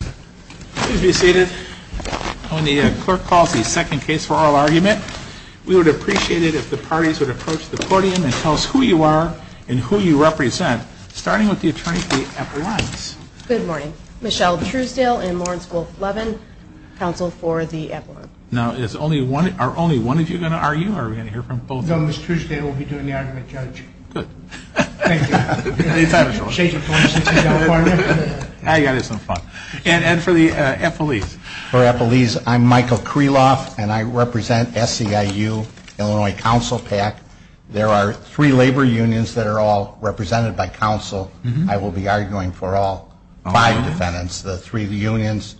Please be seated. When the clerk calls the second case for oral argument, we would appreciate it if the parties would approach the podium and tell us who you are and who you represent, starting with the attorney for the epaulets. Good morning. Michelle Truesdale and Lawrence Wolfe Levin, counsel for the epaulets. Now, are only one of you going to argue, or are we going to hear from both of you? No, Ms. Truesdale will be doing the argument, Judge. Good. Thank you. Any time, George. And for the epaulets. For epaulets, I'm Michael Kreloff, and I represent SEIU, Illinois Council PAC. There are three labor unions that are all represented by council. I will be arguing for all five defendants, the three unions,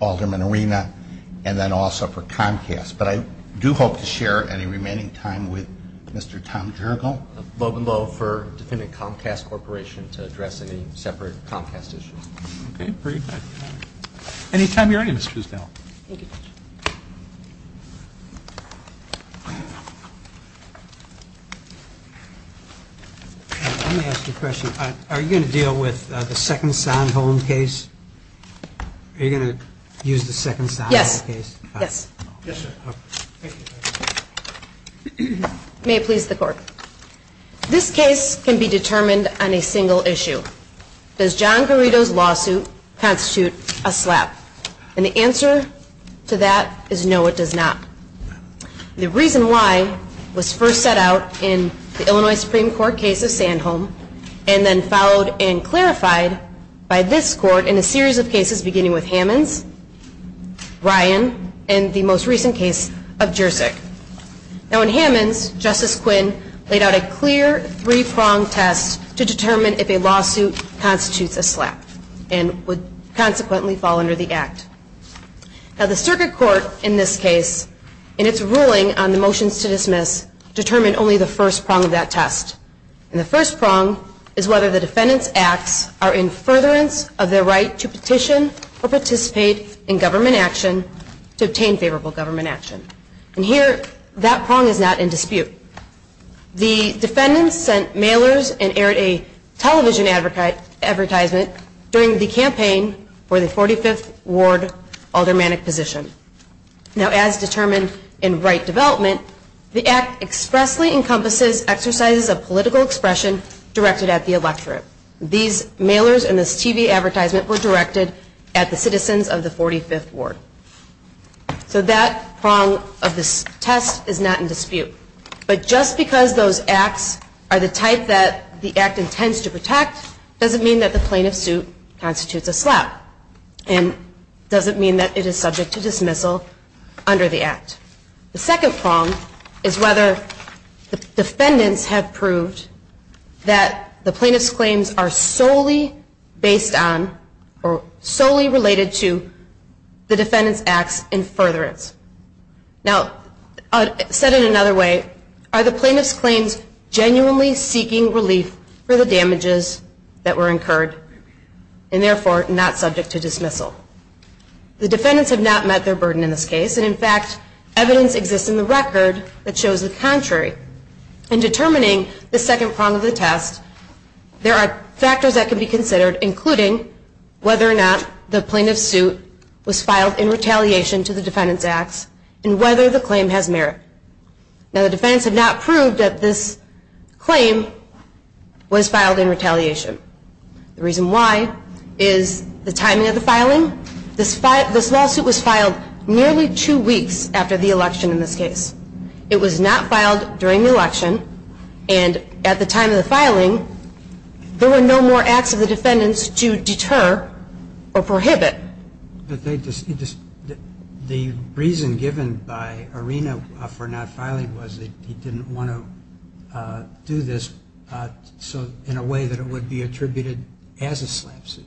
Alderman Arena, and then also for Comcast. But I do hope to share any remaining time with Mr. Tom Jergel. I'm Logan Lowe for Defendant Comcast Corporation to address any separate Comcast issues. Okay. Very good. Any time you're ready, Ms. Truesdale. Thank you, Judge. Let me ask you a question. Are you going to deal with the second sound hold case? Are you going to use the second sound hold case? Yes. Yes. Yes, sir. Thank you. May it please the court. This case can be determined on a single issue. Does John Garrido's lawsuit constitute a slap? And the answer to that is no, it does not. The reason why was first set out in the Illinois Supreme Court case of Sandholm, and then followed and clarified by this court in a series of cases beginning with Hammond's, Ryan, and the most recent case of Jurczyk. Now, in Hammond's, Justice Quinn laid out a clear three-prong test to determine if a lawsuit constitutes a slap and would consequently fall under the act. Now, the circuit court in this case, in its ruling on the motions to dismiss, determined only the first prong of that test. And the first prong is whether the defendant's acts are in furtherance of their right to petition or participate in government action to obtain favorable government action. And here, that prong is not in dispute. The defendant sent mailers and aired a television advertisement during the campaign for the 45th Ward aldermanic position. Now, as determined in right development, the act expressly encompasses exercises of political expression directed at the electorate. These mailers and this TV advertisement were directed at the citizens of the 45th Ward. So that prong of this test is not in dispute. But just because those acts are the type that the act intends to protect doesn't mean that the plaintiff's suit constitutes a slap and doesn't mean that it is subject to dismissal under the act. The second prong is whether the defendants have proved that the plaintiff's claims are solely based on or solely related to the defendant's acts in furtherance. Now, said in another way, are the plaintiff's claims genuinely seeking relief for the damages that were incurred and therefore not subject to dismissal? The defendants have not met their burden in this case. And, in fact, evidence exists in the record that shows the contrary. In determining the second prong of the test, there are factors that can be considered, including whether or not the plaintiff's suit was filed in retaliation to the defendant's acts and whether the claim has merit. Now, the defendants have not proved that this claim was filed in retaliation. The reason why is the timing of the filing. This lawsuit was filed nearly two weeks after the election in this case. It was not filed during the election, and at the time of the filing, there were no more acts of the defendants to deter or prohibit. The reason given by Arena for not filing was that he didn't want to do this in a way that it would be attributed as a slap suit.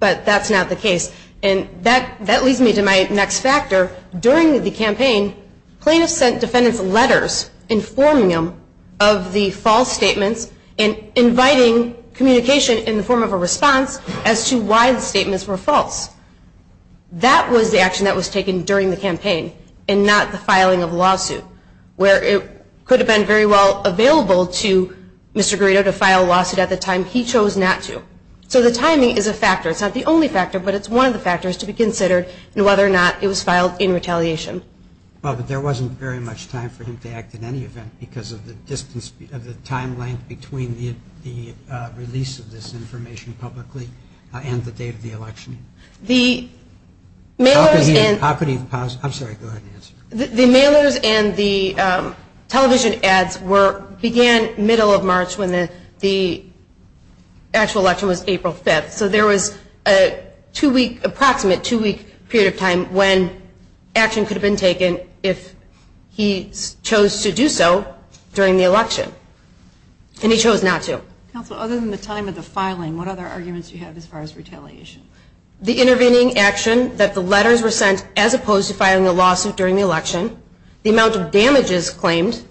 But that's not the case, and that leads me to my next factor. During the campaign, plaintiffs sent defendants letters informing them of the false statements and inviting communication in the form of a response as to why the statements were false. That was the action that was taken during the campaign and not the filing of a lawsuit, where it could have been very well available to Mr. Garrido to file a lawsuit at the time. He chose not to. So the timing is a factor. It's not the only factor, but it's one of the factors to be considered in whether or not it was filed in retaliation. Well, but there wasn't very much time for him to act in any event because of the time length between the release of this information publicly and the date of the election. when the actual election was April 5th. So there was an approximate two-week period of time when action could have been taken if he chose to do so during the election, and he chose not to. Counsel, other than the time of the filing, what other arguments do you have as far as retaliation? The intervening action that the letters were sent as opposed to filing a lawsuit during the election, the amount of damages claimed,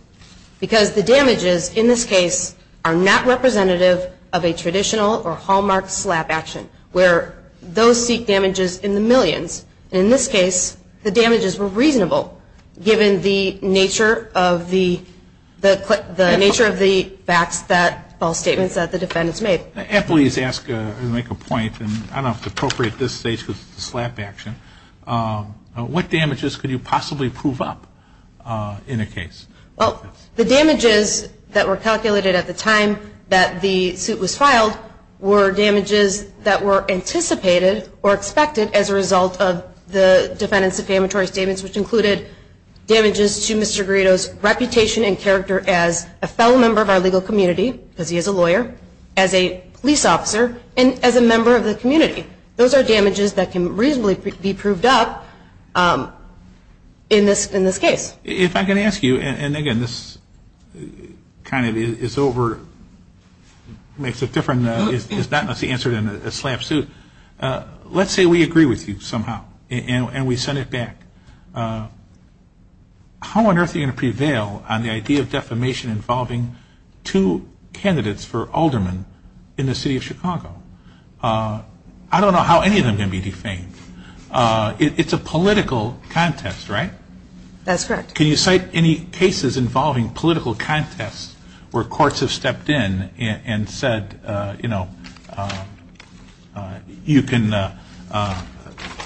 because the damages in this case are not representative of a traditional or hallmarked slap action, where those seek damages in the millions. In this case, the damages were reasonable given the nature of the facts, false statements that the defendants made. Please ask and make a point, and I don't know if it's appropriate at this stage because it's a slap action. What damages could you possibly prove up in a case? Well, the damages that were calculated at the time that the suit was filed were damages that were anticipated or expected as a result of the defendants' affamatory statements, which included damages to Mr. Grito's reputation and character as a fellow member of our legal community, because he is a lawyer, as a police officer, and as a member of the community. Those are damages that can reasonably be proved up in this case. If I can ask you, and, again, this kind of is over, makes it different, is not necessarily the answer to a slap suit. Let's say we agree with you somehow and we send it back. How on earth are you going to prevail on the idea of defamation involving two candidates for aldermen in the city of Chicago? I don't know how any of them can be defamed. It's a political contest, right? That's correct. Can you cite any cases involving political contests where courts have stepped in and said, you know, you can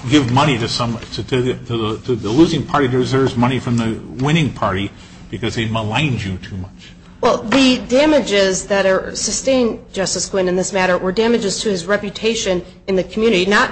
give money to the losing party to reserve money from the winning party because they maligned you too much? Well, the damages that are sustained, Justice Quinn, in this matter were damages to his reputation in the community, not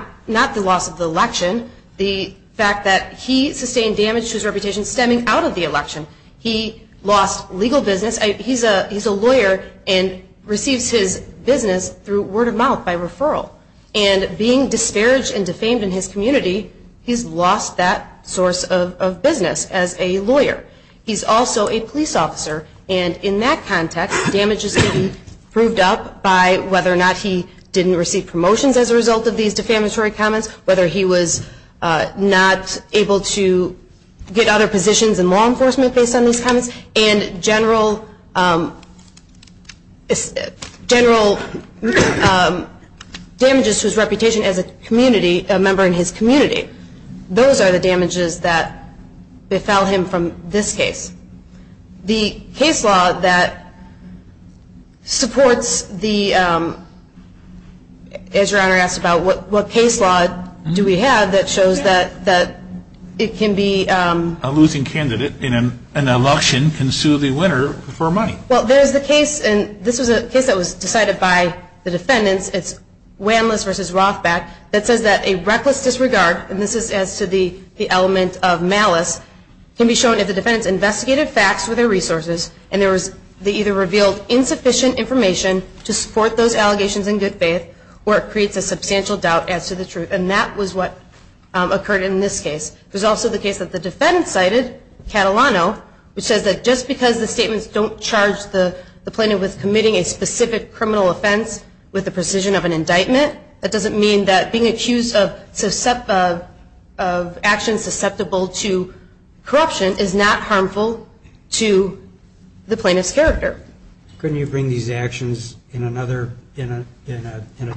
the loss of the election, the fact that he sustained damage to his reputation stemming out of the election. He lost legal business. He's a lawyer and receives his business through word of mouth, by referral. And being disparaged and defamed in his community, he's lost that source of business as a lawyer. He's also a police officer, and in that context, damages can be proved up by whether or not he didn't receive promotions as a result of these defamatory comments, whether he was not able to get other positions in law enforcement based on these comments, and general damages to his reputation as a member in his community. Those are the damages that befell him from this case. The case law that supports the, as Your Honor asked about, what case law do we have that shows that it can be? A losing candidate in an election can sue the winner for money. Well, there's the case, and this was a case that was decided by the defendants. It's Wanless v. Rothbach that says that a reckless disregard, and this is as to the element of malice, can be shown if the defendants investigated facts with their resources, and they either revealed insufficient information to support those allegations in good faith, or it creates a substantial doubt as to the truth. And that was what occurred in this case. There's also the case that the defendants cited, Catalano, which says that just because the statements don't charge the plaintiff with committing a specific criminal offense with the precision of an indictment, that doesn't mean that being accused of actions susceptible to corruption is not harmful to the plaintiff's character. Couldn't you bring these actions in a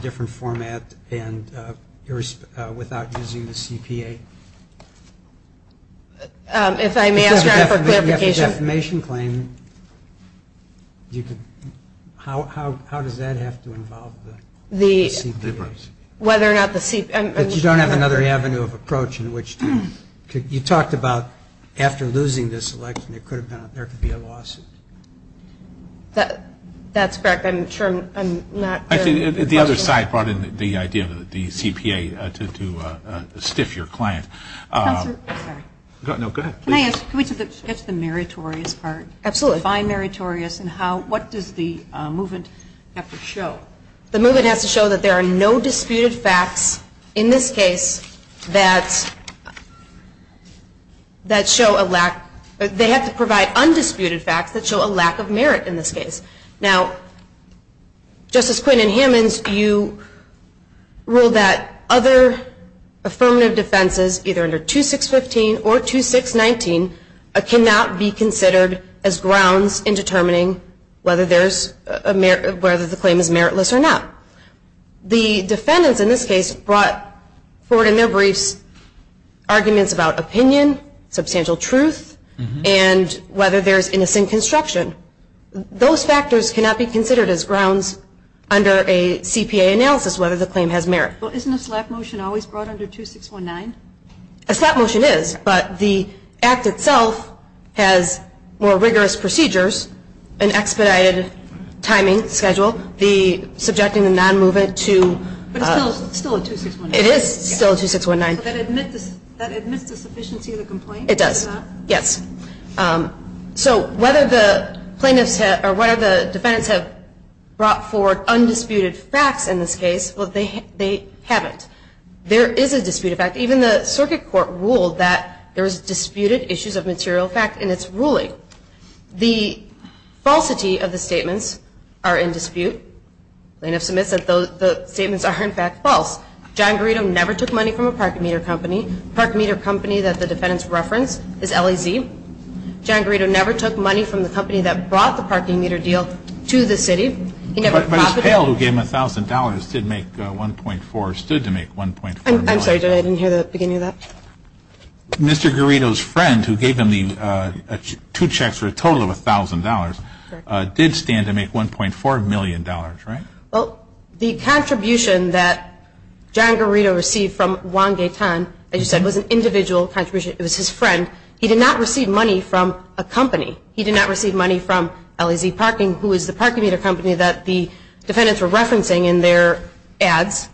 different format without using the CPA? If I may ask, Your Honor, for clarification. If you have a defamation claim, how does that have to involve the CPAs? Whether or not the CPAs... But you don't have another avenue of approach in which to... You talked about after losing this election, there could be a lawsuit. That's correct. I'm sure I'm not... The other side brought in the idea of the CPA to stiff your client. Counselor, I'm sorry. No, go ahead. Can I ask, can we get to the meritorious part? Absolutely. Define meritorious and what does the movement have to show? The movement has to show that there are no disputed facts in this case that show a lack... They have to provide undisputed facts that show a lack of merit in this case. Now, Justice Quinn and Hammonds, you ruled that other affirmative defenses, either under 2615 or 2619, cannot be considered as grounds in determining whether the claim is meritless or not. The defendants in this case brought forward in their briefs arguments about opinion, substantial truth, and whether there's innocent construction. Those factors cannot be considered as grounds under a CPA analysis whether the claim has merit. Well, isn't a slap motion always brought under 2619? A slap motion is, but the act itself has more rigorous procedures, an expedited timing schedule, the subjecting the non-movement to... But it's still a 2619? It is still a 2619. But that admits the sufficiency of the complaint? It does, yes. So whether the plaintiffs or whether the defendants have brought forward undisputed facts in this case, well, they haven't. There is a disputed fact. Even the circuit court ruled that there was disputed issues of material fact in its ruling. The falsity of the statements are in dispute. Plaintiff submits that the statements are, in fact, false. John Garrido never took money from a parking meter company. The parking meter company that the defendants reference is LAZ. John Garrido never took money from the company that brought the parking meter deal to the city. He never profited. But his pale who gave him $1,000 did make $1.4 million. I'm sorry. I didn't hear the beginning of that. Mr. Garrido's friend who gave him two checks for a total of $1,000 did stand to make $1.4 million, right? Well, the contribution that John Garrido received from Juan Gaetan, as you said, was an individual contribution. It was his friend. He did not receive money from a company. He did not receive money from LAZ Parking, who is the parking meter company that the defendants were referencing in their ads.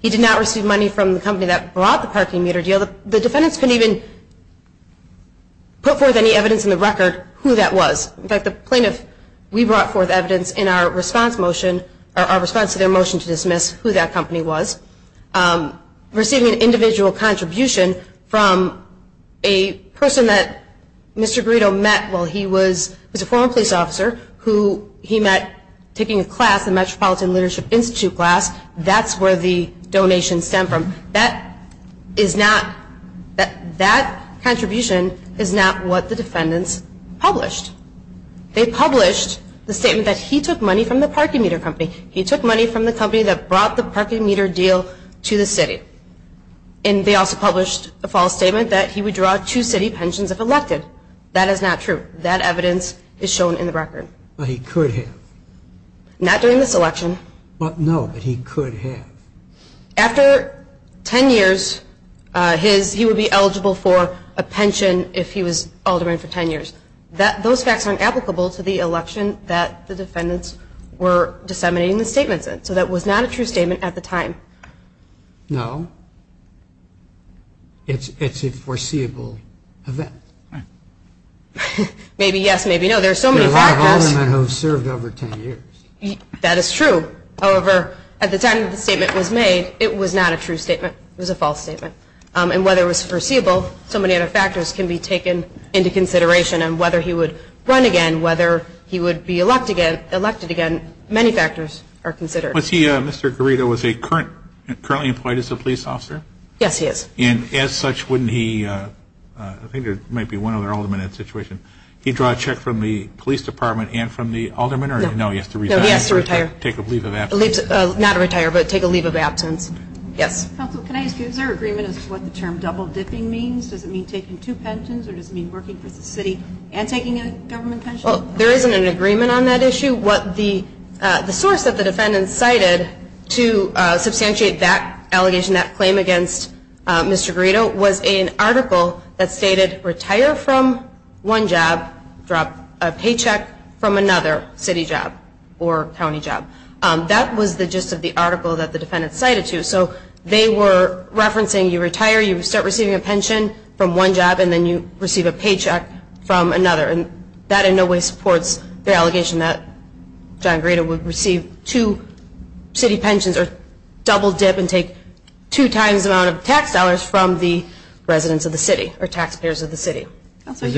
He did not receive money from the company that brought the parking meter deal. The defendants couldn't even put forth any evidence in the record who that was. In fact, the plaintiff, we brought forth evidence in our response motion or our response to their motion to dismiss who that company was. Receiving an individual contribution from a person that Mr. Garrido met while he was a former police officer who he met taking a class, the Metropolitan Leadership Institute class, that's where the donations stem from. That contribution is not what the defendants published. They published the statement that he took money from the parking meter company. He took money from the company that brought the parking meter deal to the city. And they also published a false statement that he would draw two city pensions if elected. That is not true. That evidence is shown in the record. But he could have. Not during this election. No, but he could have. After 10 years, he would be eligible for a pension if he was alderman for 10 years. Those facts are not applicable to the election that the defendants were disseminating the statements in. So that was not a true statement at the time. No. It's a foreseeable event. Maybe yes, maybe no. There are so many factors. There are a lot of aldermen who have served over 10 years. That is true. However, at the time the statement was made, it was not a true statement. It was a false statement. And whether it was foreseeable, so many other factors can be taken into consideration. And whether he would run again, whether he would be elected again, many factors are considered. Was he, Mr. Garrido, was he currently employed as a police officer? Yes, he is. And as such, wouldn't he, I think there might be one other alderman in that situation, he draw a check from the police department and from the alderman? No, he has to retire. Take a leave of absence. Not retire, but take a leave of absence. Yes. Counsel, can I ask you, is there agreement as to what the term double dipping means? Does it mean taking two pensions or does it mean working for the city and taking a government pension? Well, there isn't an agreement on that issue. What the source of the defendants cited to substantiate that allegation, that claim against Mr. Garrido was an article that stated retire from one job, drop a paycheck from another city job or county job. That was the gist of the article that the defendants cited to. So they were referencing you retire, you start receiving a pension from one job, and then you receive a paycheck from another. And that in no way supports the allegation that John Garrido would receive two city pensions or double dip and take two times the amount of tax dollars from the residents of the city or taxpayers of the city. Is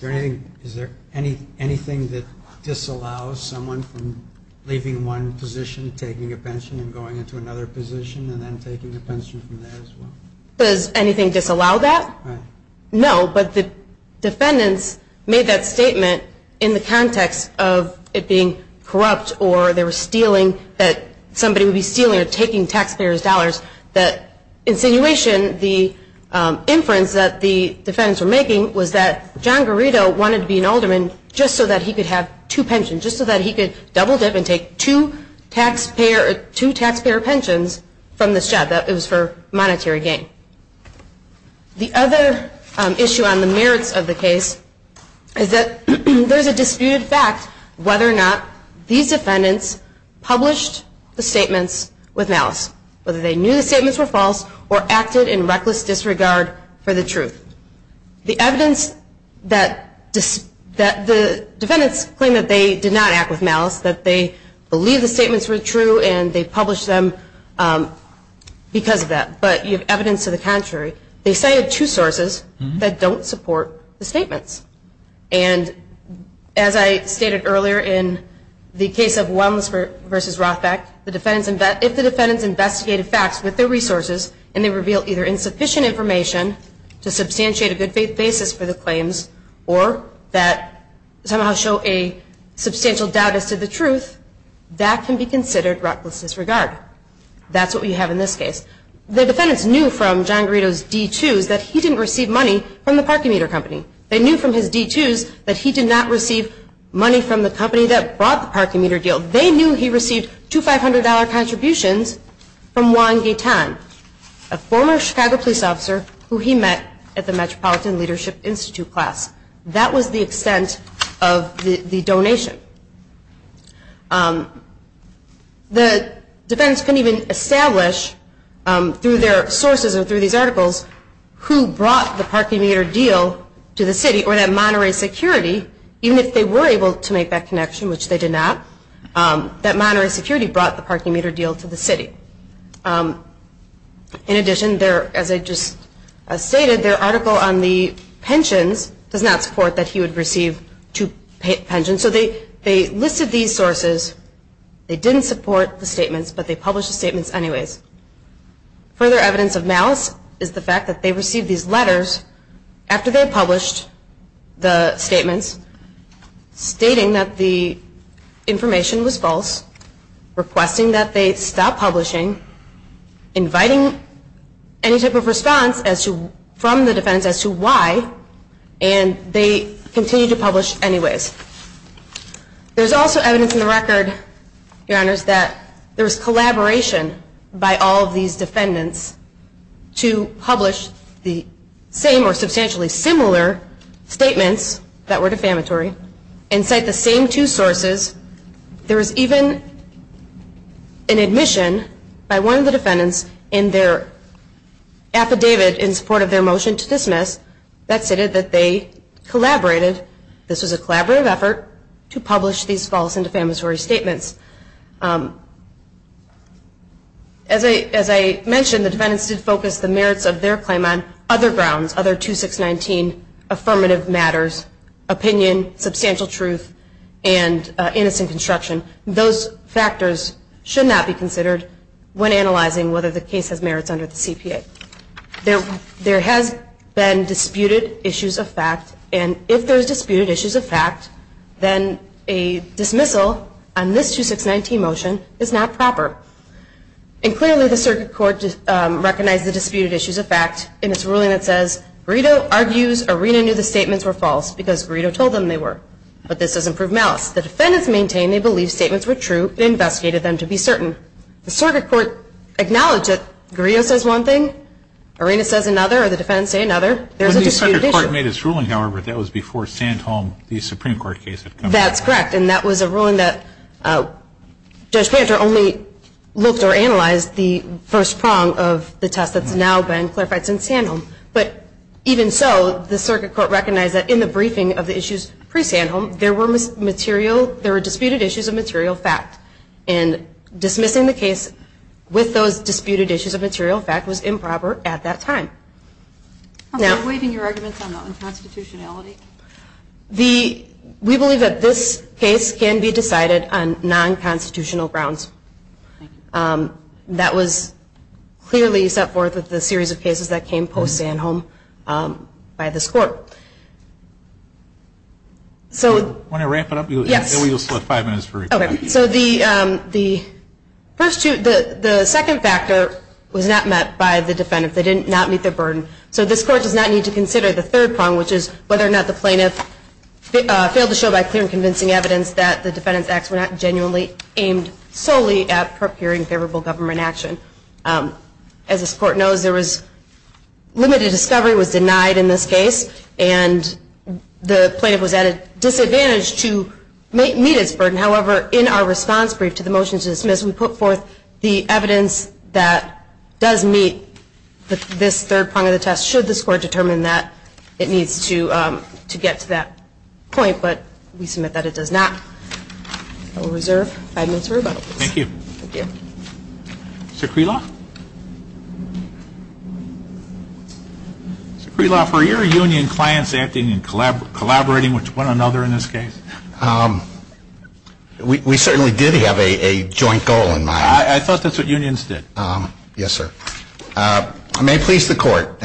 there anything that disallows someone from leaving one position, taking a pension and going into another position and then taking a pension from there as well? Does anything disallow that? No. But the defendants made that statement in the context of it being corrupt or they were stealing, that somebody would be stealing or taking taxpayers' dollars. That insinuation, the inference that the defendants were making, was that John Garrido wanted to be an alderman just so that he could have two pensions, just so that he could double dip and take two taxpayer pensions from this job. It was for monetary gain. The other issue on the merits of the case is that there's a disputed fact whether or not these defendants published the statements with malice, whether they knew the statements were false or acted in reckless disregard for the truth. The evidence that the defendants claim that they did not act with malice, that they believe the statements were true and they published them because of that, but you have evidence to the contrary. They cited two sources that don't support the statements. And as I stated earlier in the case of Wellness v. Rothbach, if the defendants investigated facts with their resources and they reveal either insufficient information to substantiate a good basis for the claims or that somehow show a substantial doubt as to the truth, that can be considered reckless disregard. That's what we have in this case. The defendants knew from John Garrido's D2s that he didn't receive money from the parking meter company. They knew from his D2s that he did not receive money from the company that brought the parking meter deal. They knew he received two $500 contributions from Juan Gaitan, a former Chicago police officer who he met at the Metropolitan Leadership Institute class. That was the extent of the donation. The defendants couldn't even establish through their sources or through these articles who brought the parking meter deal to the city or that Monterey security, even if they were able to make that connection, which they did not, that Monterey security brought the parking meter deal to the city. In addition, as I just stated, their article on the pensions does not support that he would receive two pensions. So they listed these sources. They didn't support the statements, but they published the statements anyways. Further evidence of malice is the fact that they received these letters after they published the statements stating that the information was false, requesting that they stop publishing, inviting any type of response from the defendants as to why, and they continued to publish anyways. There's also evidence in the record, Your Honors, that there was collaboration by all of these defendants to publish the same or substantially similar statements that were defamatory and cite the same two sources. There was even an admission by one of the defendants in their affidavit in support of their motion to dismiss that stated that they collaborated, this was a collaborative effort, to publish these false and defamatory statements. As I mentioned, the defendants did focus the merits of their claim on other grounds, other 2619 affirmative matters, opinion, substantial truth, and innocent construction. Those factors should not be considered when analyzing whether the case has merits under the CPA. There has been disputed issues of fact, and if there's disputed issues of fact, then a dismissal on this 2619 motion is not proper. And clearly the circuit court recognized the disputed issues of fact in its ruling that says, Greedo argues Arena knew the statements were false because Greedo told them they were, but this doesn't prove malice. The defendants maintain they believe statements were true and investigated them to be certain. The circuit court acknowledged that Greedo says one thing, Arena says another, or the defendants say another. There's a disputed issue. But the circuit court made its ruling, however, that was before Sandholm, the Supreme Court case. That's correct, and that was a ruling that Judge Panter only looked or analyzed the first prong of the test that's now been clarified since Sandholm. But even so, the circuit court recognized that in the briefing of the issues pre-Sandholm, there were disputed issues of material fact. And dismissing the case with those disputed issues of material fact was improper at that time. Are you waiving your arguments on the unconstitutionality? We believe that this case can be decided on non-constitutional grounds. That was clearly set forth with the series of cases that came post-Sandholm by this court. Do you want to wrap it up? Yes. Then we just have five minutes for rebuttal. Okay. So the first two, the second factor was not met by the defendant. They did not meet their burden. So this court does not need to consider the third prong, which is whether or not the plaintiff failed to show by clear and convincing evidence that the defendant's acts were not genuinely aimed solely at procuring favorable government action. As this court knows, there was limited discovery was denied in this case. And the plaintiff was at a disadvantage to meet its burden. However, in our response brief to the motion to dismiss, we put forth the evidence that does meet this third prong of the test, should this court determine that it needs to get to that point. But we submit that it does not. I will reserve five minutes for rebuttal. Thank you. Thank you. Secrela? Secrela, were your union clients acting and collaborating with one another in this case? We certainly did have a joint goal in mind. I thought that's what unions did. Yes, sir. I may please the court.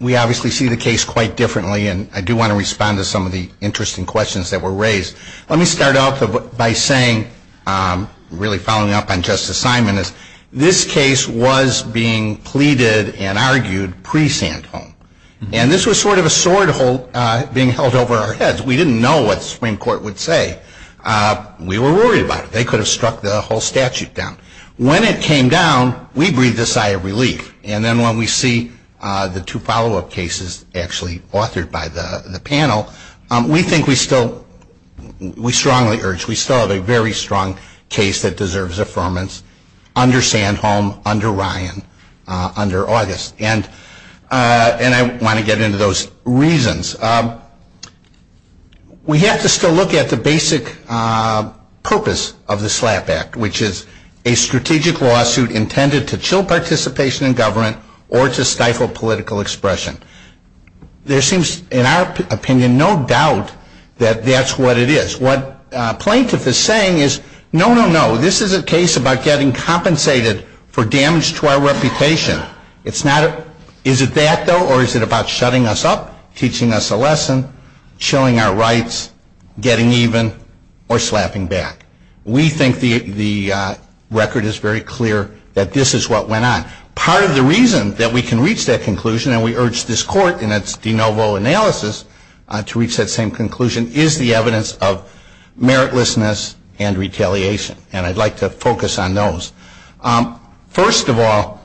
We obviously see the case quite differently, and I do want to respond to some of the interesting questions that were raised. Let me start off by saying, really following up on Justice Simon, this case was being pleaded and argued pre-Sandholm. And this was sort of a sword hole being held over our heads. We didn't know what the Supreme Court would say. We were worried about it. They could have struck the whole statute down. When it came down, we breathed a sigh of relief. And then when we see the two follow-up cases actually authored by the panel, we think we still, we strongly urge, we still have a very strong case that deserves affirmance under Sandholm, under Ryan, under August. And I want to get into those reasons. We have to still look at the basic purpose of the SLAPP Act, which is a strategic lawsuit intended to chill participation in government or to stifle political expression. There seems, in our opinion, no doubt that that's what it is. What plaintiff is saying is, no, no, no, this is a case about getting compensated for damage to our reputation. It's not, is it that, though, or is it about shutting us up, teaching us a lesson, chilling our rights, getting even, or slapping back? We think the record is very clear that this is what went on. Part of the reason that we can reach that conclusion, and we urge this Court in its de novo analysis to reach that same conclusion, is the evidence of meritlessness and retaliation. And I'd like to focus on those. First of all,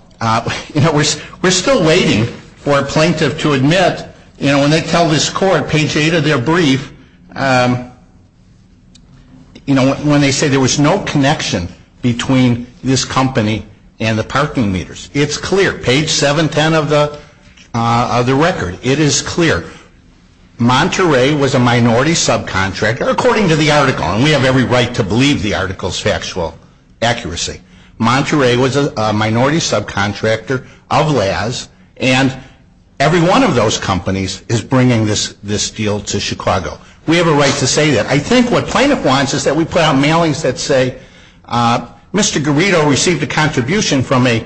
you know, we're still waiting for a plaintiff to admit, you know, when they tell this Court, page 8 of their brief, you know, when they say there was no connection between this company and the parking meters. It's clear. Page 710 of the record, it is clear. Monterey was a minority subcontractor, according to the article, and we have every right to believe the article's factual accuracy. Monterey was a minority subcontractor of Laz, and every one of those companies is bringing this deal to Chicago. We have a right to say that. I think what plaintiff wants is that we put out mailings that say, Mr. Garrido received a contribution from a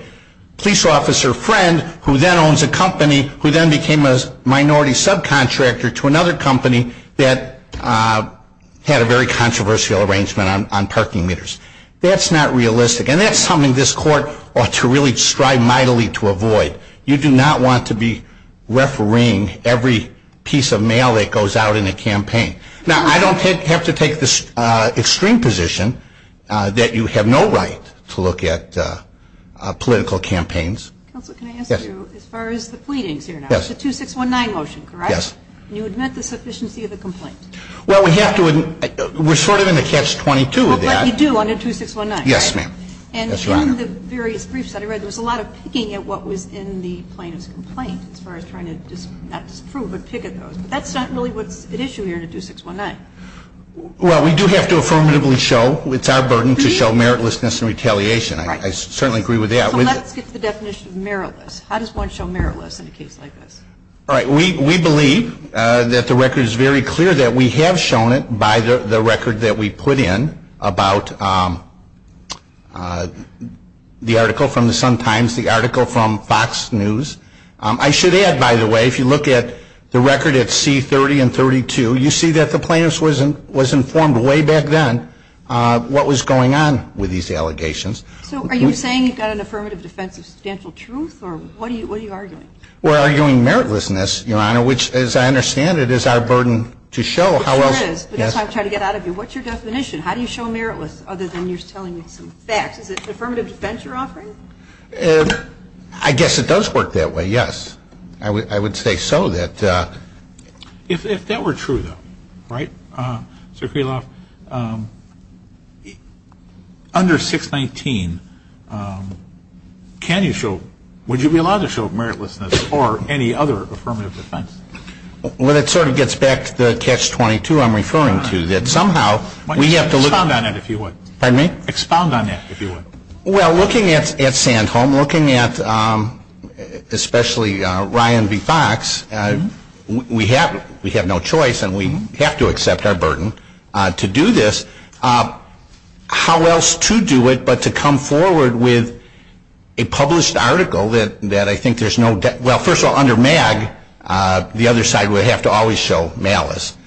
police officer friend who then owns a company who then became a minority subcontractor to another company that had a very controversial arrangement on parking meters. That's not realistic, and that's something this Court ought to really strive mightily to avoid. You do not want to be refereeing every piece of mail that goes out in a campaign. Now, I don't have to take the extreme position that you have no right to look at political campaigns. Counsel, can I ask you, as far as the pleadings here now, it's a 2619 motion, correct? Yes. And you admit the sufficiency of the complaint? Well, we have to. We're sort of in the catch-22 of that. But you do under 2619, right? Yes, ma'am. And in the various briefs that I read, there was a lot of picking at what was in the plaintiff's complaint as far as trying to not disprove But that's not really what's at issue here in a 2619. Well, we do have to affirmatively show. It's our burden to show meritlessness and retaliation. I certainly agree with that. So let's get to the definition of meritless. How does one show meritless in a case like this? All right. We believe that the record is very clear that we have shown it by the record that we put in about the article from the Sun-Times, the article from Fox News. I should add, by the way, if you look at the record at C30 and 32, you see that the plaintiff was informed way back then what was going on with these allegations. So are you saying you've got an affirmative defense of substantial truth? Or what are you arguing? We're arguing meritlessness, Your Honor, which, as I understand it, is our burden to show. It sure is. But that's what I'm trying to get out of you. What's your definition? How do you show meritless other than you're telling me some facts? Is it an affirmative defense you're offering? I guess it does work that way, yes. I would say so. If that were true, though, right, Sir Kreloff, under 619, can you show, would you be allowed to show meritlessness or any other affirmative defense? Well, that sort of gets back to the Catch-22 I'm referring to, that somehow we have to look at it. Expound on that, if you would. Pardon me? Expound on that, if you would. Well, looking at Sandholm, looking at especially Ryan v. Fox, we have no choice and we have to accept our burden to do this. How else to do it but to come forward with a published article that I think there's no, well, first of all, under MAG, the other side would have to always show malice.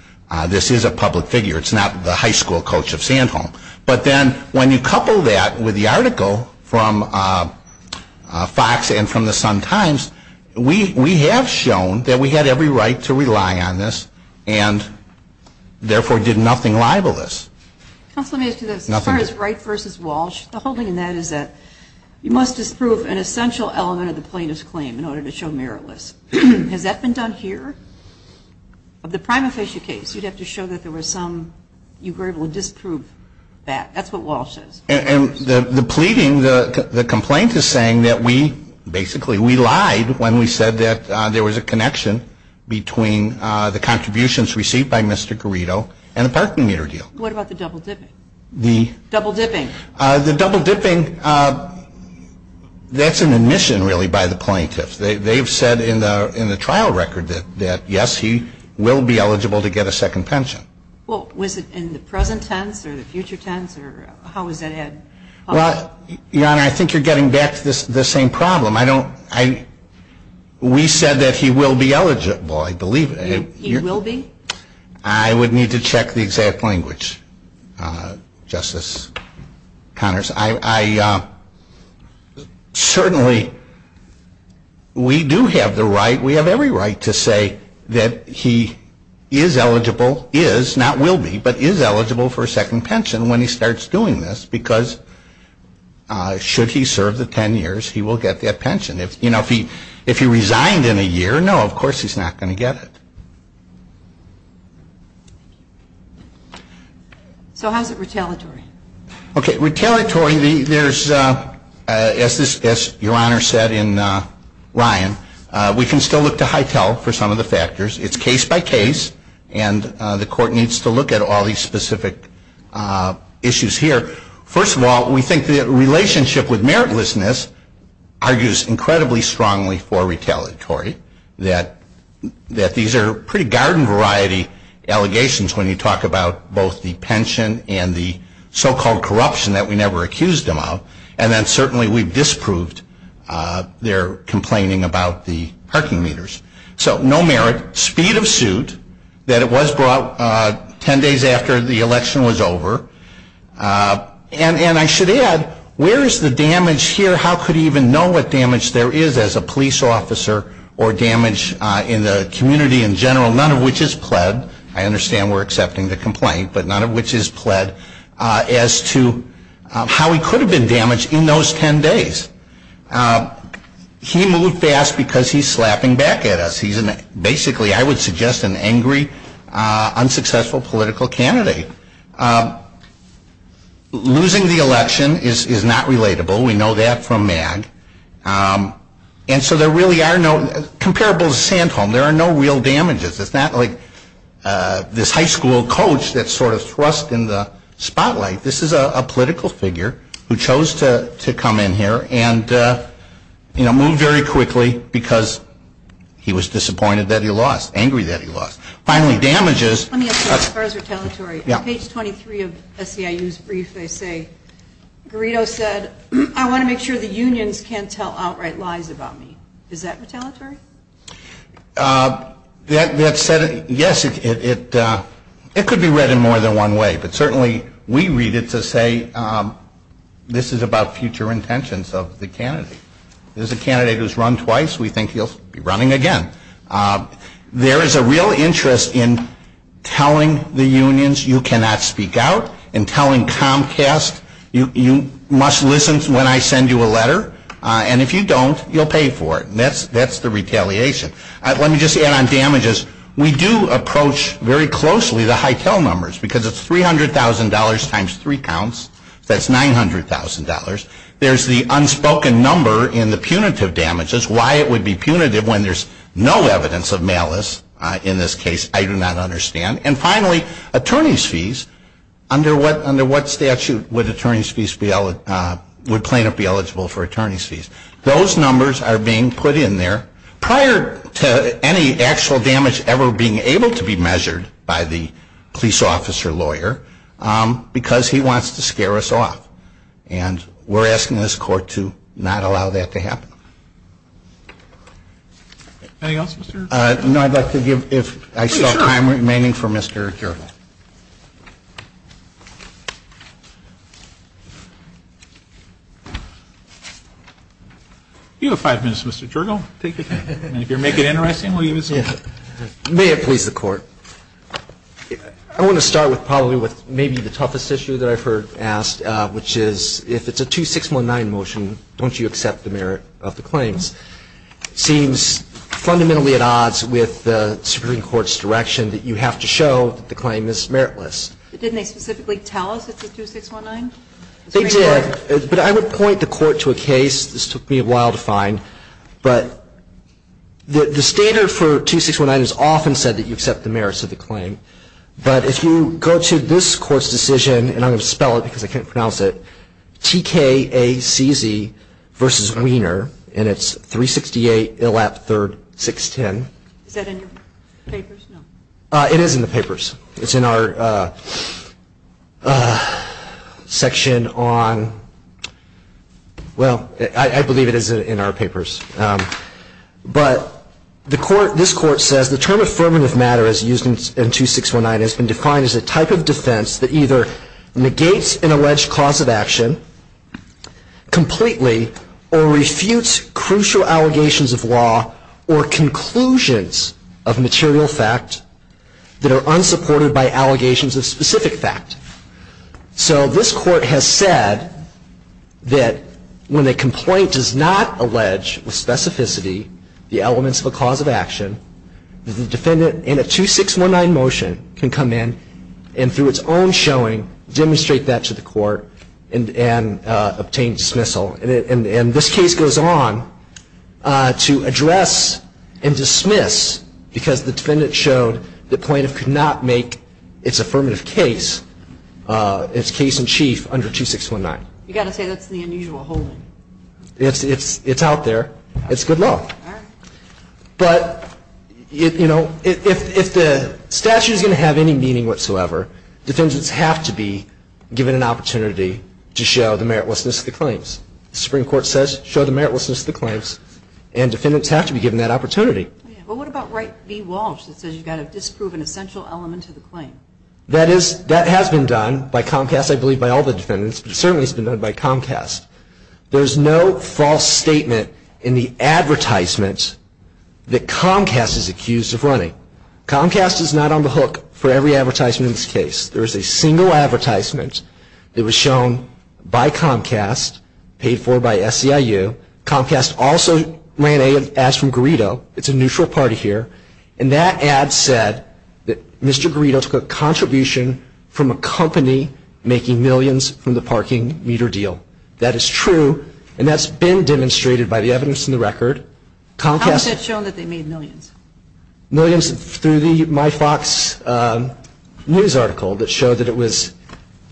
This is a public figure. It's not the high school coach of Sandholm. But then when you couple that with the article from Fox and from the Sun-Times, we have shown that we had every right to rely on this and, therefore, did nothing libelous. Counsel, let me ask you this. As far as Wright v. Walsh, the holding in that is that you must disprove an essential element of the plaintiff's claim in order to show meritless. Has that been done here? Of the prima facie case, you'd have to show that there were some, you were able to disprove that. That's what Walsh says. And the pleading, the complaint is saying that we, basically, we lied when we said that there was a connection between the contributions received by Mr. Garrido and the parking meter deal. What about the double dipping? The? Double dipping. The double dipping, that's an admission, really, by the plaintiff. They've said in the trial record that, yes, he will be eligible to get a second pension. Well, was it in the present tense or the future tense, or how was that added? Well, Your Honor, I think you're getting back to the same problem. I don't, I, we said that he will be eligible, I believe. He will be? I would need to check the exact language, Justice Connors. I certainly, we do have the right, we have every right to say that he is eligible, is, not will be, but is eligible for a second pension when he starts doing this because should he serve the ten years, he will get that pension. If, you know, if he resigned in a year, no, of course he's not going to get it. So how's it retaliatory? Okay, retaliatory, there's, as Your Honor said in Ryan, we can still look to Hytel for some of the factors. It's case by case, and the court needs to look at all these specific issues here. First of all, we think the relationship with meritlessness argues incredibly strongly for retaliatory, that these are pretty garden variety allegations when you talk about both the pension and the so-called corruption that we never accused him of, and then certainly we disproved their complaining about the parking meters. So no merit, speed of suit, that it was brought ten days after the election was over, and I should add, where is the damage here? How could he even know what damage there is as a police officer or damage in the community in general, none of which is pled, I understand we're accepting the complaint, but none of which is pled as to how he could have been damaged in those ten days. He moved fast because he's slapping back at us. He's basically, I would suggest, an angry, unsuccessful political candidate. Losing the election is not relatable. We know that from MAG. And so there really are no, comparable to Sandholm, there are no real damages. It's not like this high school coach that's sort of thrust in the spotlight. This is a political figure who chose to come in here and, you know, move very quickly because he was disappointed that he lost, angry that he lost. Finally, damages. Let me ask you, as far as retaliatory, on page 23 of SEIU's brief, they say, Guarido said, I want to make sure the unions can't tell outright lies about me. Is that retaliatory? That said, yes, it could be read in more than one way, but certainly we read it to say this is about future intentions of the candidate. There's a candidate who's run twice, we think he'll be running again. There is a real interest in telling the unions you cannot speak out and telling Comcast you must listen when I send you a letter. And if you don't, you'll pay for it. And that's the retaliation. Let me just add on damages. We do approach very closely the Hytel numbers because it's $300,000 times three counts. That's $900,000. There's the unspoken number in the punitive damages, why it would be punitive when there's no evidence of malice. In this case, I do not understand. And finally, attorney's fees. Under what statute would plaintiff be eligible for attorney's fees? Those numbers are being put in there prior to any actual damage ever being able to be measured by the police officer lawyer because he wants to scare us off. And we're asking this Court to not allow that to happen. Anything else, Mr. Gergel? No, I'd like to give, if I still have time remaining, for Mr. Gergel. You have five minutes, Mr. Gergel. Take your time. And if you make it interesting, we'll use it. May it please the Court. I want to start probably with maybe the toughest issue that I've heard asked, which is if it's a 2619 motion, don't you accept the merit of the claims? Seems fundamentally at odds with the Supreme Court's direction that you have to show that the claim is meritless. Didn't they specifically tell us it's a 2619? They did. But I would point the Court to a case. This took me a while to find. But the standard for 2619 is often said that you accept the merits of the claim. But if you go to this Court's decision, and I'm going to spell it because I can't pronounce it, TKACZ v. Wiener, and it's 368 Illap III, 610. Is that in your papers? It is in the papers. It's in our section on, well, I believe it is in our papers. But this Court says, The term affirmative matter as used in 2619 has been defined as a type of defense that either negates an alleged cause of action completely or refutes crucial allegations of law or conclusions of material fact that are unsupported by allegations of specific fact. So this Court has said that when a complaint does not allege with specificity the elements of a cause of action, the defendant in a 2619 motion can come in and through its own showing, demonstrate that to the Court and obtain dismissal. And this case goes on to address and dismiss because the defendant showed the plaintiff could not make its affirmative case, its case in chief under 2619. You've got to say that's the unusual holding. It's out there. It's good law. All right. But, you know, if the statute is going to have any meaning whatsoever, defendants have to be given an opportunity to show the meritlessness of the claims. The Supreme Court says show the meritlessness of the claims, and defendants have to be given that opportunity. Well, what about Wright v. Walsh that says you've got to disprove an essential element to the claim? That has been done by Comcast, I believe, by all the defendants, but it certainly has been done by Comcast. There's no false statement in the advertisement that Comcast is accused of running. Comcast is not on the hook for every advertisement in this case. There is a single advertisement that was shown by Comcast, paid for by SEIU. Comcast also ran an ad from Grito. It's a neutral party here. And that ad said that Mr. Grito took a contribution from a company making millions from the parking meter deal. That is true, and that's been demonstrated by the evidence in the record. How has that shown that they made millions? Millions through the MyFox news article that showed that it was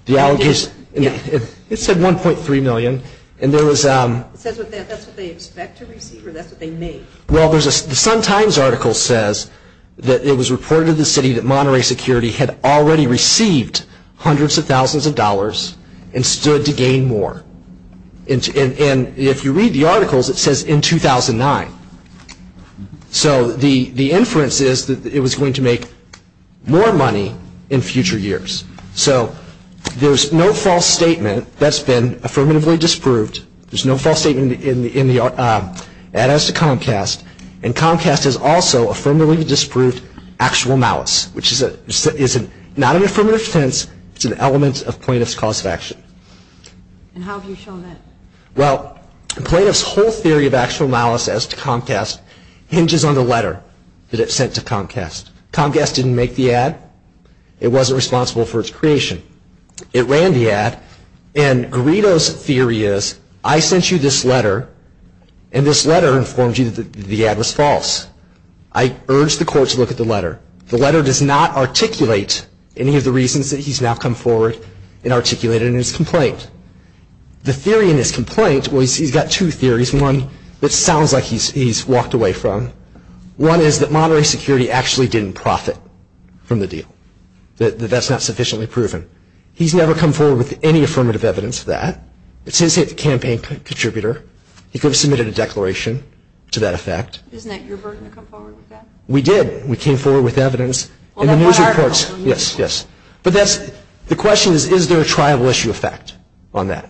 the allegations. It said $1.3 million. It says that that's what they expect to receive or that's what they made? Well, the Sun-Times article says that it was reported to the city that Monterey Security had already received hundreds of thousands of dollars and stood to gain more. And if you read the articles, it says in 2009. So the inference is that it was going to make more money in future years. So there's no false statement that's been affirmatively disproved. There's no false statement in the ad as to Comcast. And Comcast has also affirmatively disproved actual malice, which is not an affirmative offense. It's an element of plaintiff's cause of action. And how have you shown that? Well, the plaintiff's whole theory of actual malice as to Comcast hinges on the letter that it sent to Comcast. Comcast didn't make the ad. It wasn't responsible for its creation. It ran the ad, and Grito's theory is, I sent you this letter, and this letter informed you that the ad was false. I urge the court to look at the letter. The letter does not articulate any of the reasons that he's now come forward and articulated in his complaint. The theory in his complaint, well, he's got two theories, one that sounds like he's walked away from. One is that moderate security actually didn't profit from the deal, that that's not sufficiently proven. He's never come forward with any affirmative evidence of that. It's his campaign contributor. He could have submitted a declaration to that effect. Isn't that your burden to come forward with that? We did. We came forward with evidence in the news reports. Well, that one article. Yes, yes. But the question is, is there a triable issue effect on that?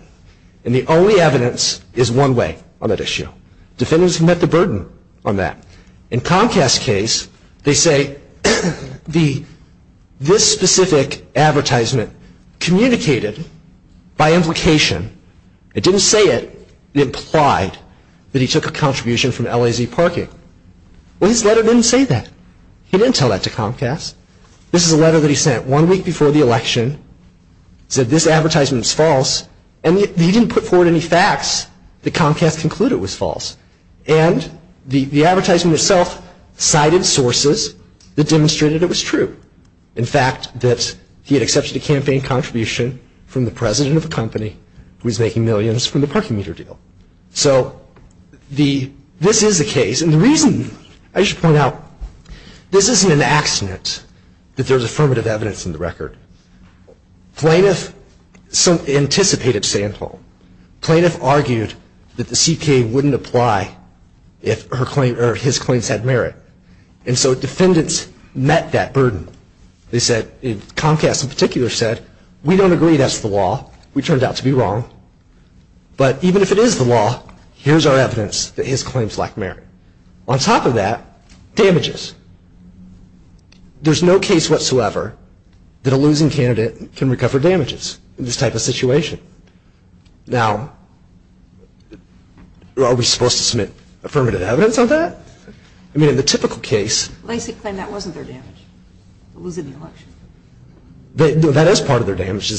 And the only evidence is one way on that issue. Defendants can met the burden on that. In Comcast's case, they say this specific advertisement communicated by implication. It didn't say it. It implied that he took a contribution from LAZ Parking. Well, his letter didn't say that. He didn't tell that to Comcast. This is a letter that he sent one week before the election, said this advertisement is false, and he didn't put forward any facts that Comcast concluded was false. And the advertisement itself cited sources that demonstrated it was true. In fact, that he had accepted a campaign contribution from the president of a company who was making millions from the parking meter deal. So this is the case. And the reason, I should point out, this isn't an accident that there's affirmative evidence in the record. Plaintiff anticipated Sandhole. Plaintiff argued that the CPA wouldn't apply if his claims had merit. And so defendants met that burden. They said, Comcast in particular said, we don't agree that's the law. We turned out to be wrong. But even if it is the law, here's our evidence that his claims lack merit. On top of that, damages. There's no case whatsoever that a losing candidate can recover damages in this type of situation. Now, are we supposed to submit affirmative evidence on that? I mean, in the typical case. Lacey claimed that wasn't their damage. Losing the election. That is part of their damage.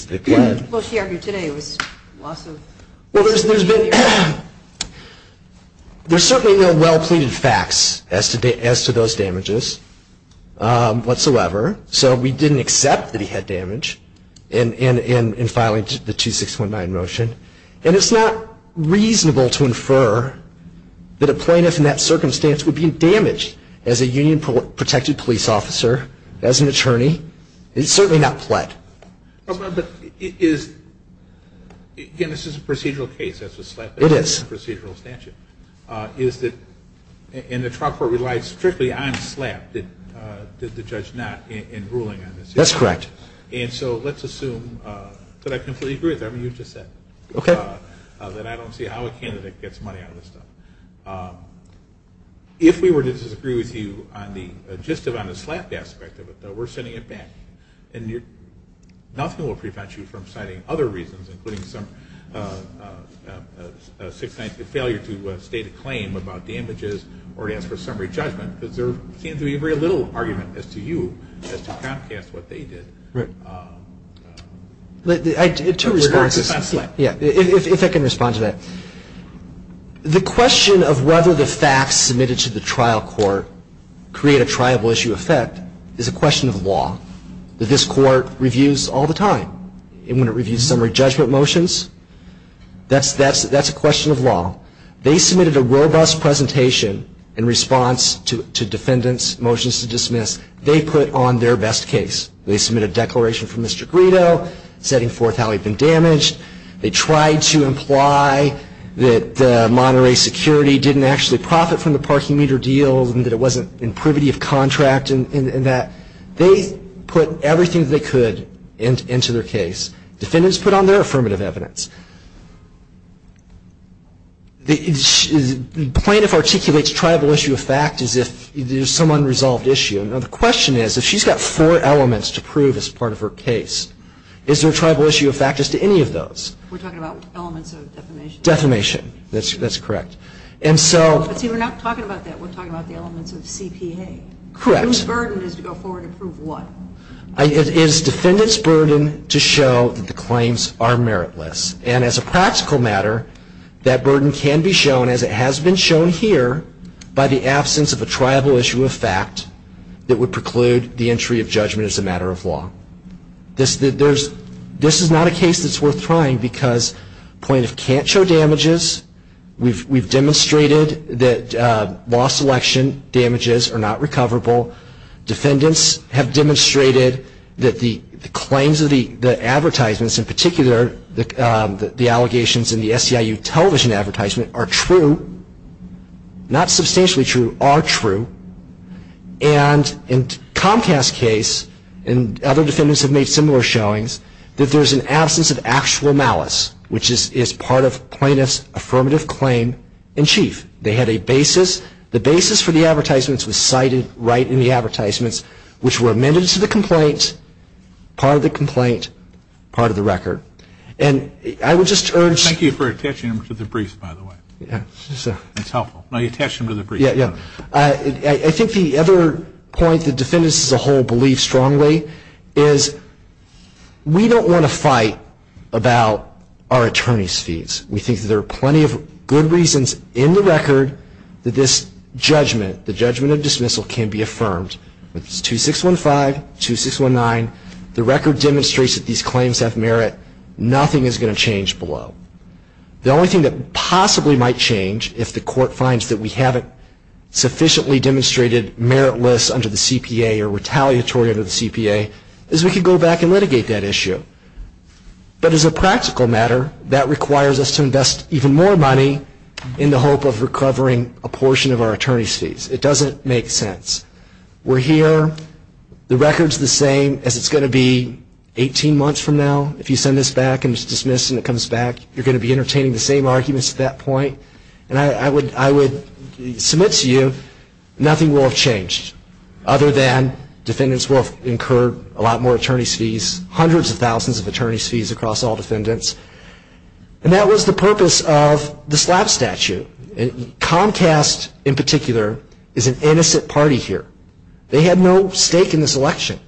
Well, she argued today it was loss of. Well, there's certainly no well-pleaded facts as to those damages whatsoever. So we didn't accept that he had damage in filing the 2619 motion. And it's not reasonable to infer that a plaintiff in that circumstance would be damaged as a union protected police officer, as an attorney. It's certainly not plead. But it is. Again, this is a procedural case. It is. Procedural statute. Is that in the trial court relies strictly on slap. Did the judge not in ruling on this? That's correct. And so let's assume that I completely agree with everything you just said. Okay. That I don't see how a candidate gets money out of this stuff. If we were to disagree with you on the gist of on the slap aspect of it, we're sending it back. And nothing will prevent you from citing other reasons, including some 619 failure to state a claim about damages or to ask for summary judgment. Because there seems to be very little argument as to you as to Comcast, what they did. Right. Two responses. If I can respond to that. The question of whether the facts submitted to the trial court create a question of law that this court reviews all the time. And when it reviews summary judgment motions, that's a question of law. They submitted a robust presentation in response to defendants' motions to dismiss. They put on their best case. They submitted a declaration from Mr. Grito setting forth how he'd been damaged. They put everything they could into their case. Defendants put on their affirmative evidence. The plaintiff articulates tribal issue of fact as if there's some unresolved issue. Now, the question is, if she's got four elements to prove as part of her case, is there a tribal issue of fact as to any of those? We're talking about elements of defamation. Defamation. That's correct. And so. See, we're not talking about that. We're talking about the elements of CPA. Correct. The plaintiff's burden is to go forward and prove what? It is defendants' burden to show that the claims are meritless. And as a practical matter, that burden can be shown, as it has been shown here, by the absence of a tribal issue of fact that would preclude the entry of judgment as a matter of law. This is not a case that's worth trying because plaintiffs can't show damages. We've demonstrated that law selection damages are not recoverable. Defendants have demonstrated that the claims of the advertisements, in particular the allegations in the SEIU television advertisement, are true. Not substantially true. Are true. And in Comcast's case, and other defendants have made similar showings, that there's an absence of actual malice, which is part of plaintiff's affirmative claim in chief. They had a basis. The basis for the advertisements was cited right in the advertisements, which were amended to the complaint, part of the complaint, part of the record. And I would just urge. Thank you for attaching them to the brief, by the way. Yeah. It's helpful. No, you attached them to the brief. Yeah, yeah. I think the other point the defendants as a whole believe strongly is we don't want to fight about our attorney's fees. We think there are plenty of good reasons in the record that this judgment, the judgment of dismissal, can be affirmed. It's 2615, 2619. The record demonstrates that these claims have merit. Nothing is going to change below. The only thing that possibly might change, if the court finds that we haven't sufficiently demonstrated meritless under the CPA or retaliatory under the CPA, is we could go back and litigate that issue. But as a practical matter, that requires us to invest even more money in the hope of recovering a portion of our attorney's fees. It doesn't make sense. We're here. The record's the same as it's going to be 18 months from now. If you send this back and it's dismissed and it comes back, you're going to be entertaining the same arguments at that point. And I would submit to you nothing will have changed other than defendants will have incurred a lot more attorney's fees, hundreds of thousands of attorney's fees across all defendants. And that was the purpose of the slap statute. Comcast, in particular, is an innocent party here. They had no stake in this election.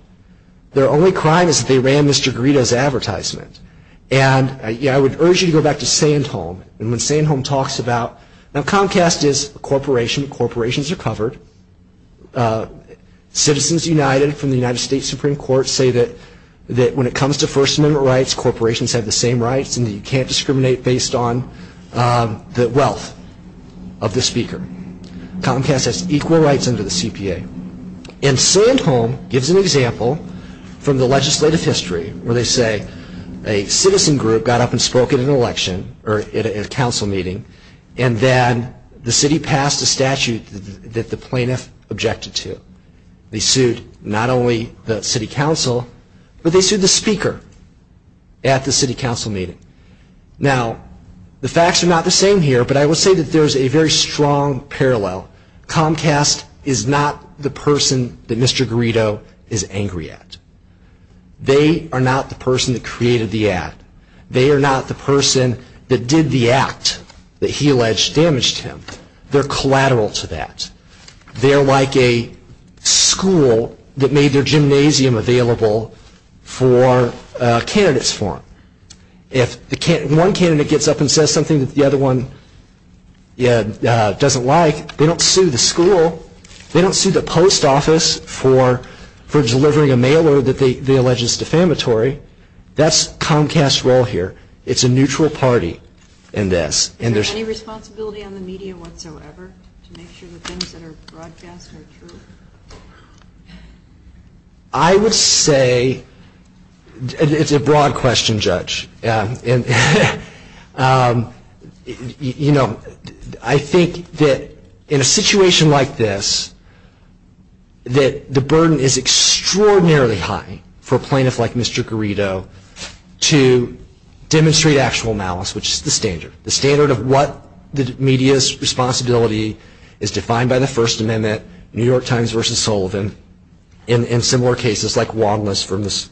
Their only crime is that they ran Mr. Guido's advertisement. And I would urge you to go back to Sandholm. And when Sandholm talks about, now Comcast is a corporation. Corporations are covered. Citizens United from the United States Supreme Court say that when it comes to First Amendment rights, corporations have the same rights and that you can't discriminate based on the wealth of the speaker. Comcast has equal rights under the CPA. And Sandholm gives an example from the legislative history where they say a council meeting and then the city passed a statute that the plaintiff objected to. They sued not only the city council, but they sued the speaker at the city council meeting. Now, the facts are not the same here, but I will say that there is a very strong parallel. Comcast is not the person that Mr. Guido is angry at. They are not the person that created the ad. They are not the person that did the act that he alleged damaged him. They are collateral to that. They are like a school that made their gymnasium available for candidates for. If one candidate gets up and says something that the other one doesn't like, they don't sue the school. They don't sue the post office for delivering a mail order that they allege is defamatory. That's Comcast's role here. It's a neutral party in this. Is there any responsibility on the media whatsoever to make sure that things that are broadcast are true? I would say, it's a broad question, Judge. You know, I think that in a situation like this, that the burden is on Mr. Guido to demonstrate actual malice, which is the standard. The standard of what the media's responsibility is defined by the First Amendment, New York Times versus Sullivan, and in similar cases like Wallace from the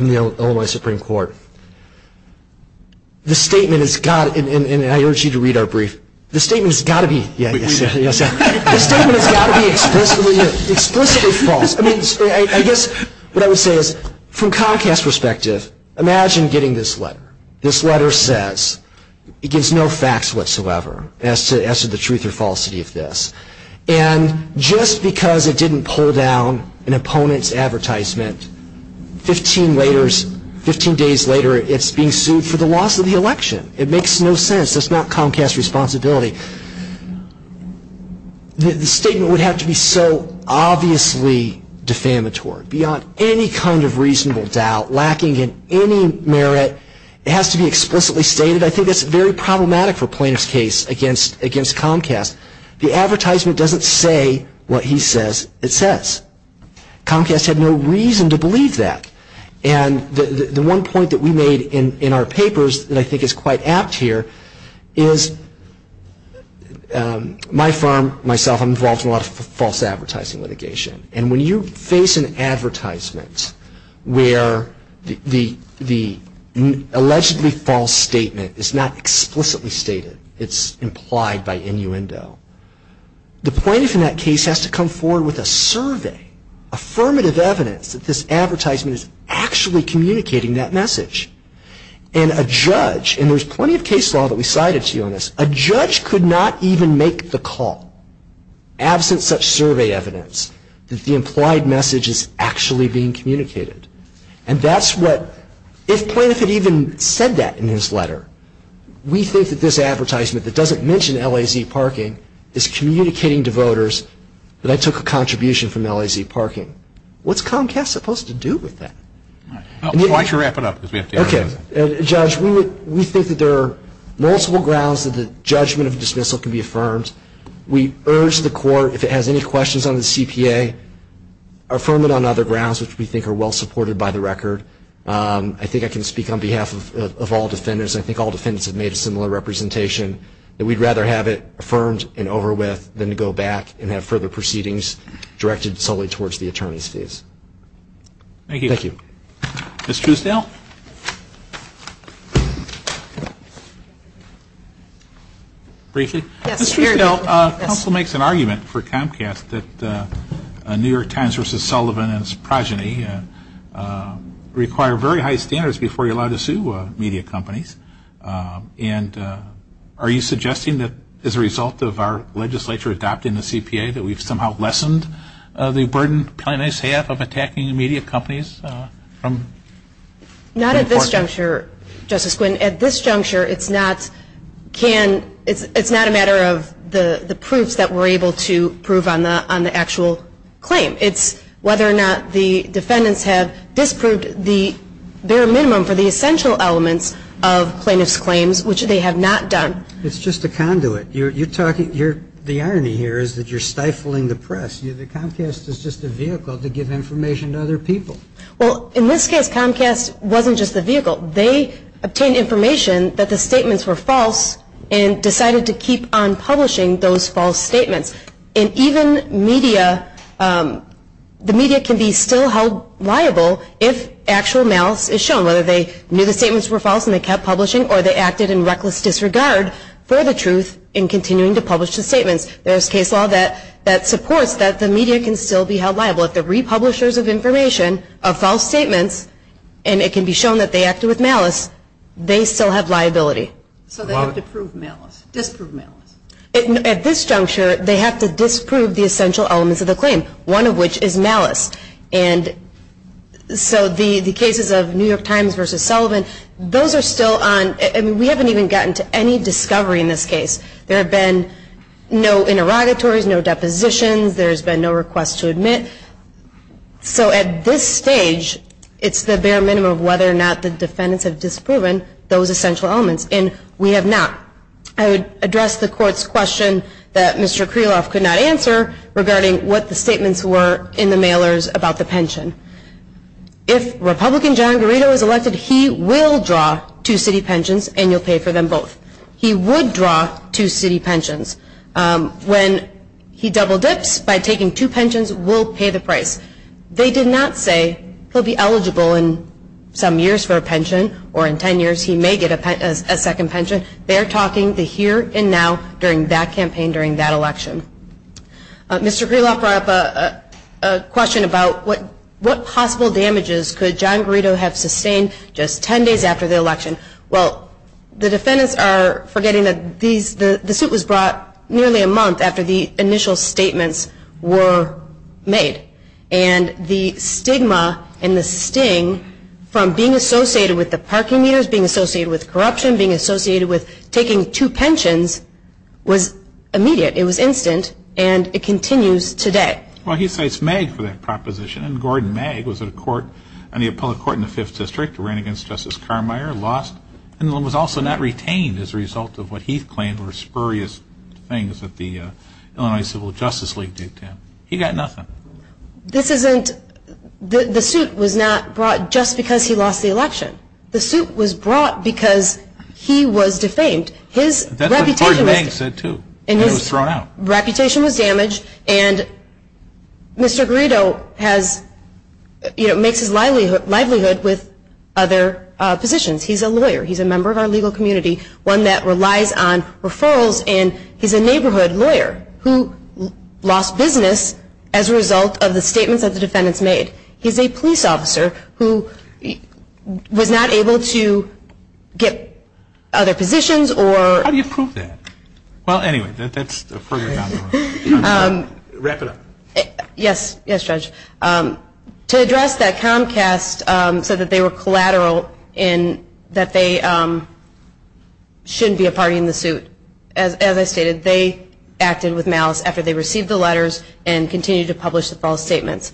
Illinois Supreme Court. The statement has got to be, and I urge you to read our brief, the statement has got to be explicitly false. I guess what I would say is, from Comcast's perspective, imagine getting this letter. This letter says, it gives no facts whatsoever as to the truth or falsity of this. And just because it didn't pull down an opponent's advertisement 15 days later, it's being sued for the loss of the election. It makes no sense. That's not Comcast's responsibility. The statement would have to be so obviously defamatory. Beyond any kind of reasonable doubt, lacking in any merit, it has to be explicitly stated. I think that's very problematic for Plaintiff's case against Comcast. The advertisement doesn't say what he says it says. Comcast had no reason to believe that. And the one point that we made in our papers that I think is quite apt here is, my firm, myself, I'm involved in a lot of false advertising litigation. And when you face an advertisement where the allegedly false statement is not explicitly stated, it's implied by innuendo, the plaintiff in that case has to come forward with a survey, affirmative evidence, that this advertisement is actually communicating that message. And a judge, and there's plenty of case law that we cited to you on this, a judge could not even make the call, absent such survey evidence, that the implied message is actually being communicated. And that's what, if Plaintiff had even said that in his letter, we think that this advertisement that doesn't mention LAZ parking is communicating to voters that I took a contribution from LAZ parking. What's Comcast supposed to do with that? Why don't you wrap it up? Okay. Judge, we think that there are multiple grounds that the judgment of dismissal can be affirmed. We urge the court, if it has any questions on the CPA, affirm it on other grounds which we think are well supported by the record. I think I can speak on behalf of all defendants. I think all defendants have made a similar representation, that we'd rather have it affirmed and over with than to go back and have further proceedings directed solely towards the attorney's fees. Thank you. Thank you. Ms. Truesdale? Yes. Ms. Truesdale, counsel makes an argument for Comcast that New York Times versus Sullivan and its progeny require very high standards before you're allowed to sue media companies. And are you suggesting that as a result of our legislature adopting the CPA, that we've somehow lessened the burden plaintiffs have of attacking the media companies? Not at this juncture, Justice Quinn. At this juncture, it's not a matter of the proofs that we're able to prove on the actual claim. It's whether or not the defendants have disproved the bare minimum for the essential elements of plaintiffs' claims, which they have not done. It's just a conduit. The irony here is that you're stifling the press. Comcast is just a vehicle to give information to other people. Well, in this case, Comcast wasn't just a vehicle. They obtained information that the statements were false and decided to keep on publishing those false statements. And even media, the media can be still held liable if actual malice is shown, whether they knew the statements were false and they kept publishing or they continued to publish the statements. There's case law that supports that the media can still be held liable. If the republishers of information are false statements and it can be shown that they acted with malice, they still have liability. So they have to prove malice, disprove malice. At this juncture, they have to disprove the essential elements of the claim, one of which is malice. And so the cases of New York Times versus Sullivan, those are still on. I mean, we haven't even gotten to any discovery in this case. There have been no interrogatories, no depositions. There's been no request to admit. So at this stage, it's the bare minimum of whether or not the defendants have disproven those essential elements, and we have not. I would address the Court's question that Mr. Kreloff could not answer regarding what the statements were in the mailers about the pension. If Republican John Garrido is elected, he will draw two city pensions, and you'll pay for them both. He would draw two city pensions. When he double dips by taking two pensions, we'll pay the price. They did not say he'll be eligible in some years for a pension, or in 10 years he may get a second pension. They're talking the here and now during that campaign during that election. Mr. Kreloff brought up a question about what possible damages could John Garrido have sustained just 10 days after the election. Well, the defendants are forgetting that the suit was brought nearly a month after the initial statements were made. And the stigma and the sting from being associated with the parking meters, being associated with corruption, being associated with taking two pensions, was immediate. It was instant, and it continues today. Well, he cites Magg for that proposition. And Gordon Magg was on the appellate court in the Fifth District, ran against Justice Carmier, lost, and was also not retained as a result of what he claimed were spurious things that the Illinois Civil Justice League did to him. He got nothing. This isn't the suit was not brought just because he lost the election. The suit was brought because he was defamed. That's what Gordon Magg said, too. He was thrown out. Reputation was damaged, and Mr. Garrido has, you know, makes his livelihood with other positions. He's a lawyer. He's a member of our legal community, one that relies on referrals, and he's a neighborhood lawyer who lost business as a result of the statements that the defendants made. He's a police officer who was not able to get other positions or ---- How do you prove that? Well, anyway, that's a further comment. Wrap it up. Yes, Judge. To address that Comcast said that they were collateral in that they shouldn't be a party in the suit. As I stated, they acted with malice after they received the letters and continued to publish the false statements.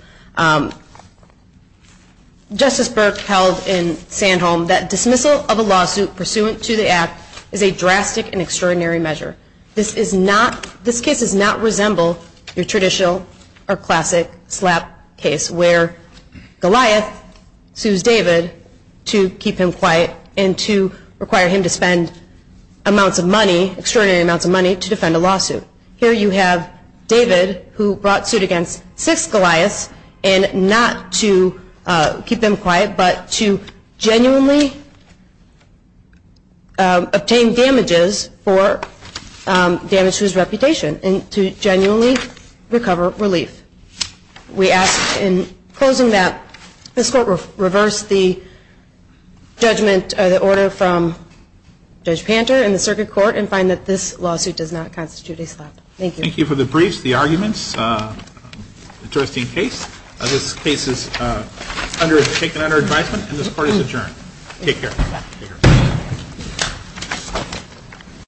Justice Burke held in Sandholm that dismissal of a lawsuit pursuant to the act is a drastic and extraordinary measure. This case does not resemble your traditional or classic slap case where Goliath sues David to keep him quiet and to require him to spend amounts of money, extraordinary amounts of money, to defend a lawsuit. Here you have David who brought suit against six Goliaths and not to keep them quiet but to genuinely obtain damages for damage to his reputation and to genuinely recover relief. We ask in closing that this Court reverse the judgment or the order from Judge Panter and the Circuit Court and find that this lawsuit does not constitute a slap. Thank you. Thank you for the briefs, the arguments. Interesting case. This case is taken under advisement and this Court is adjourned. Take care.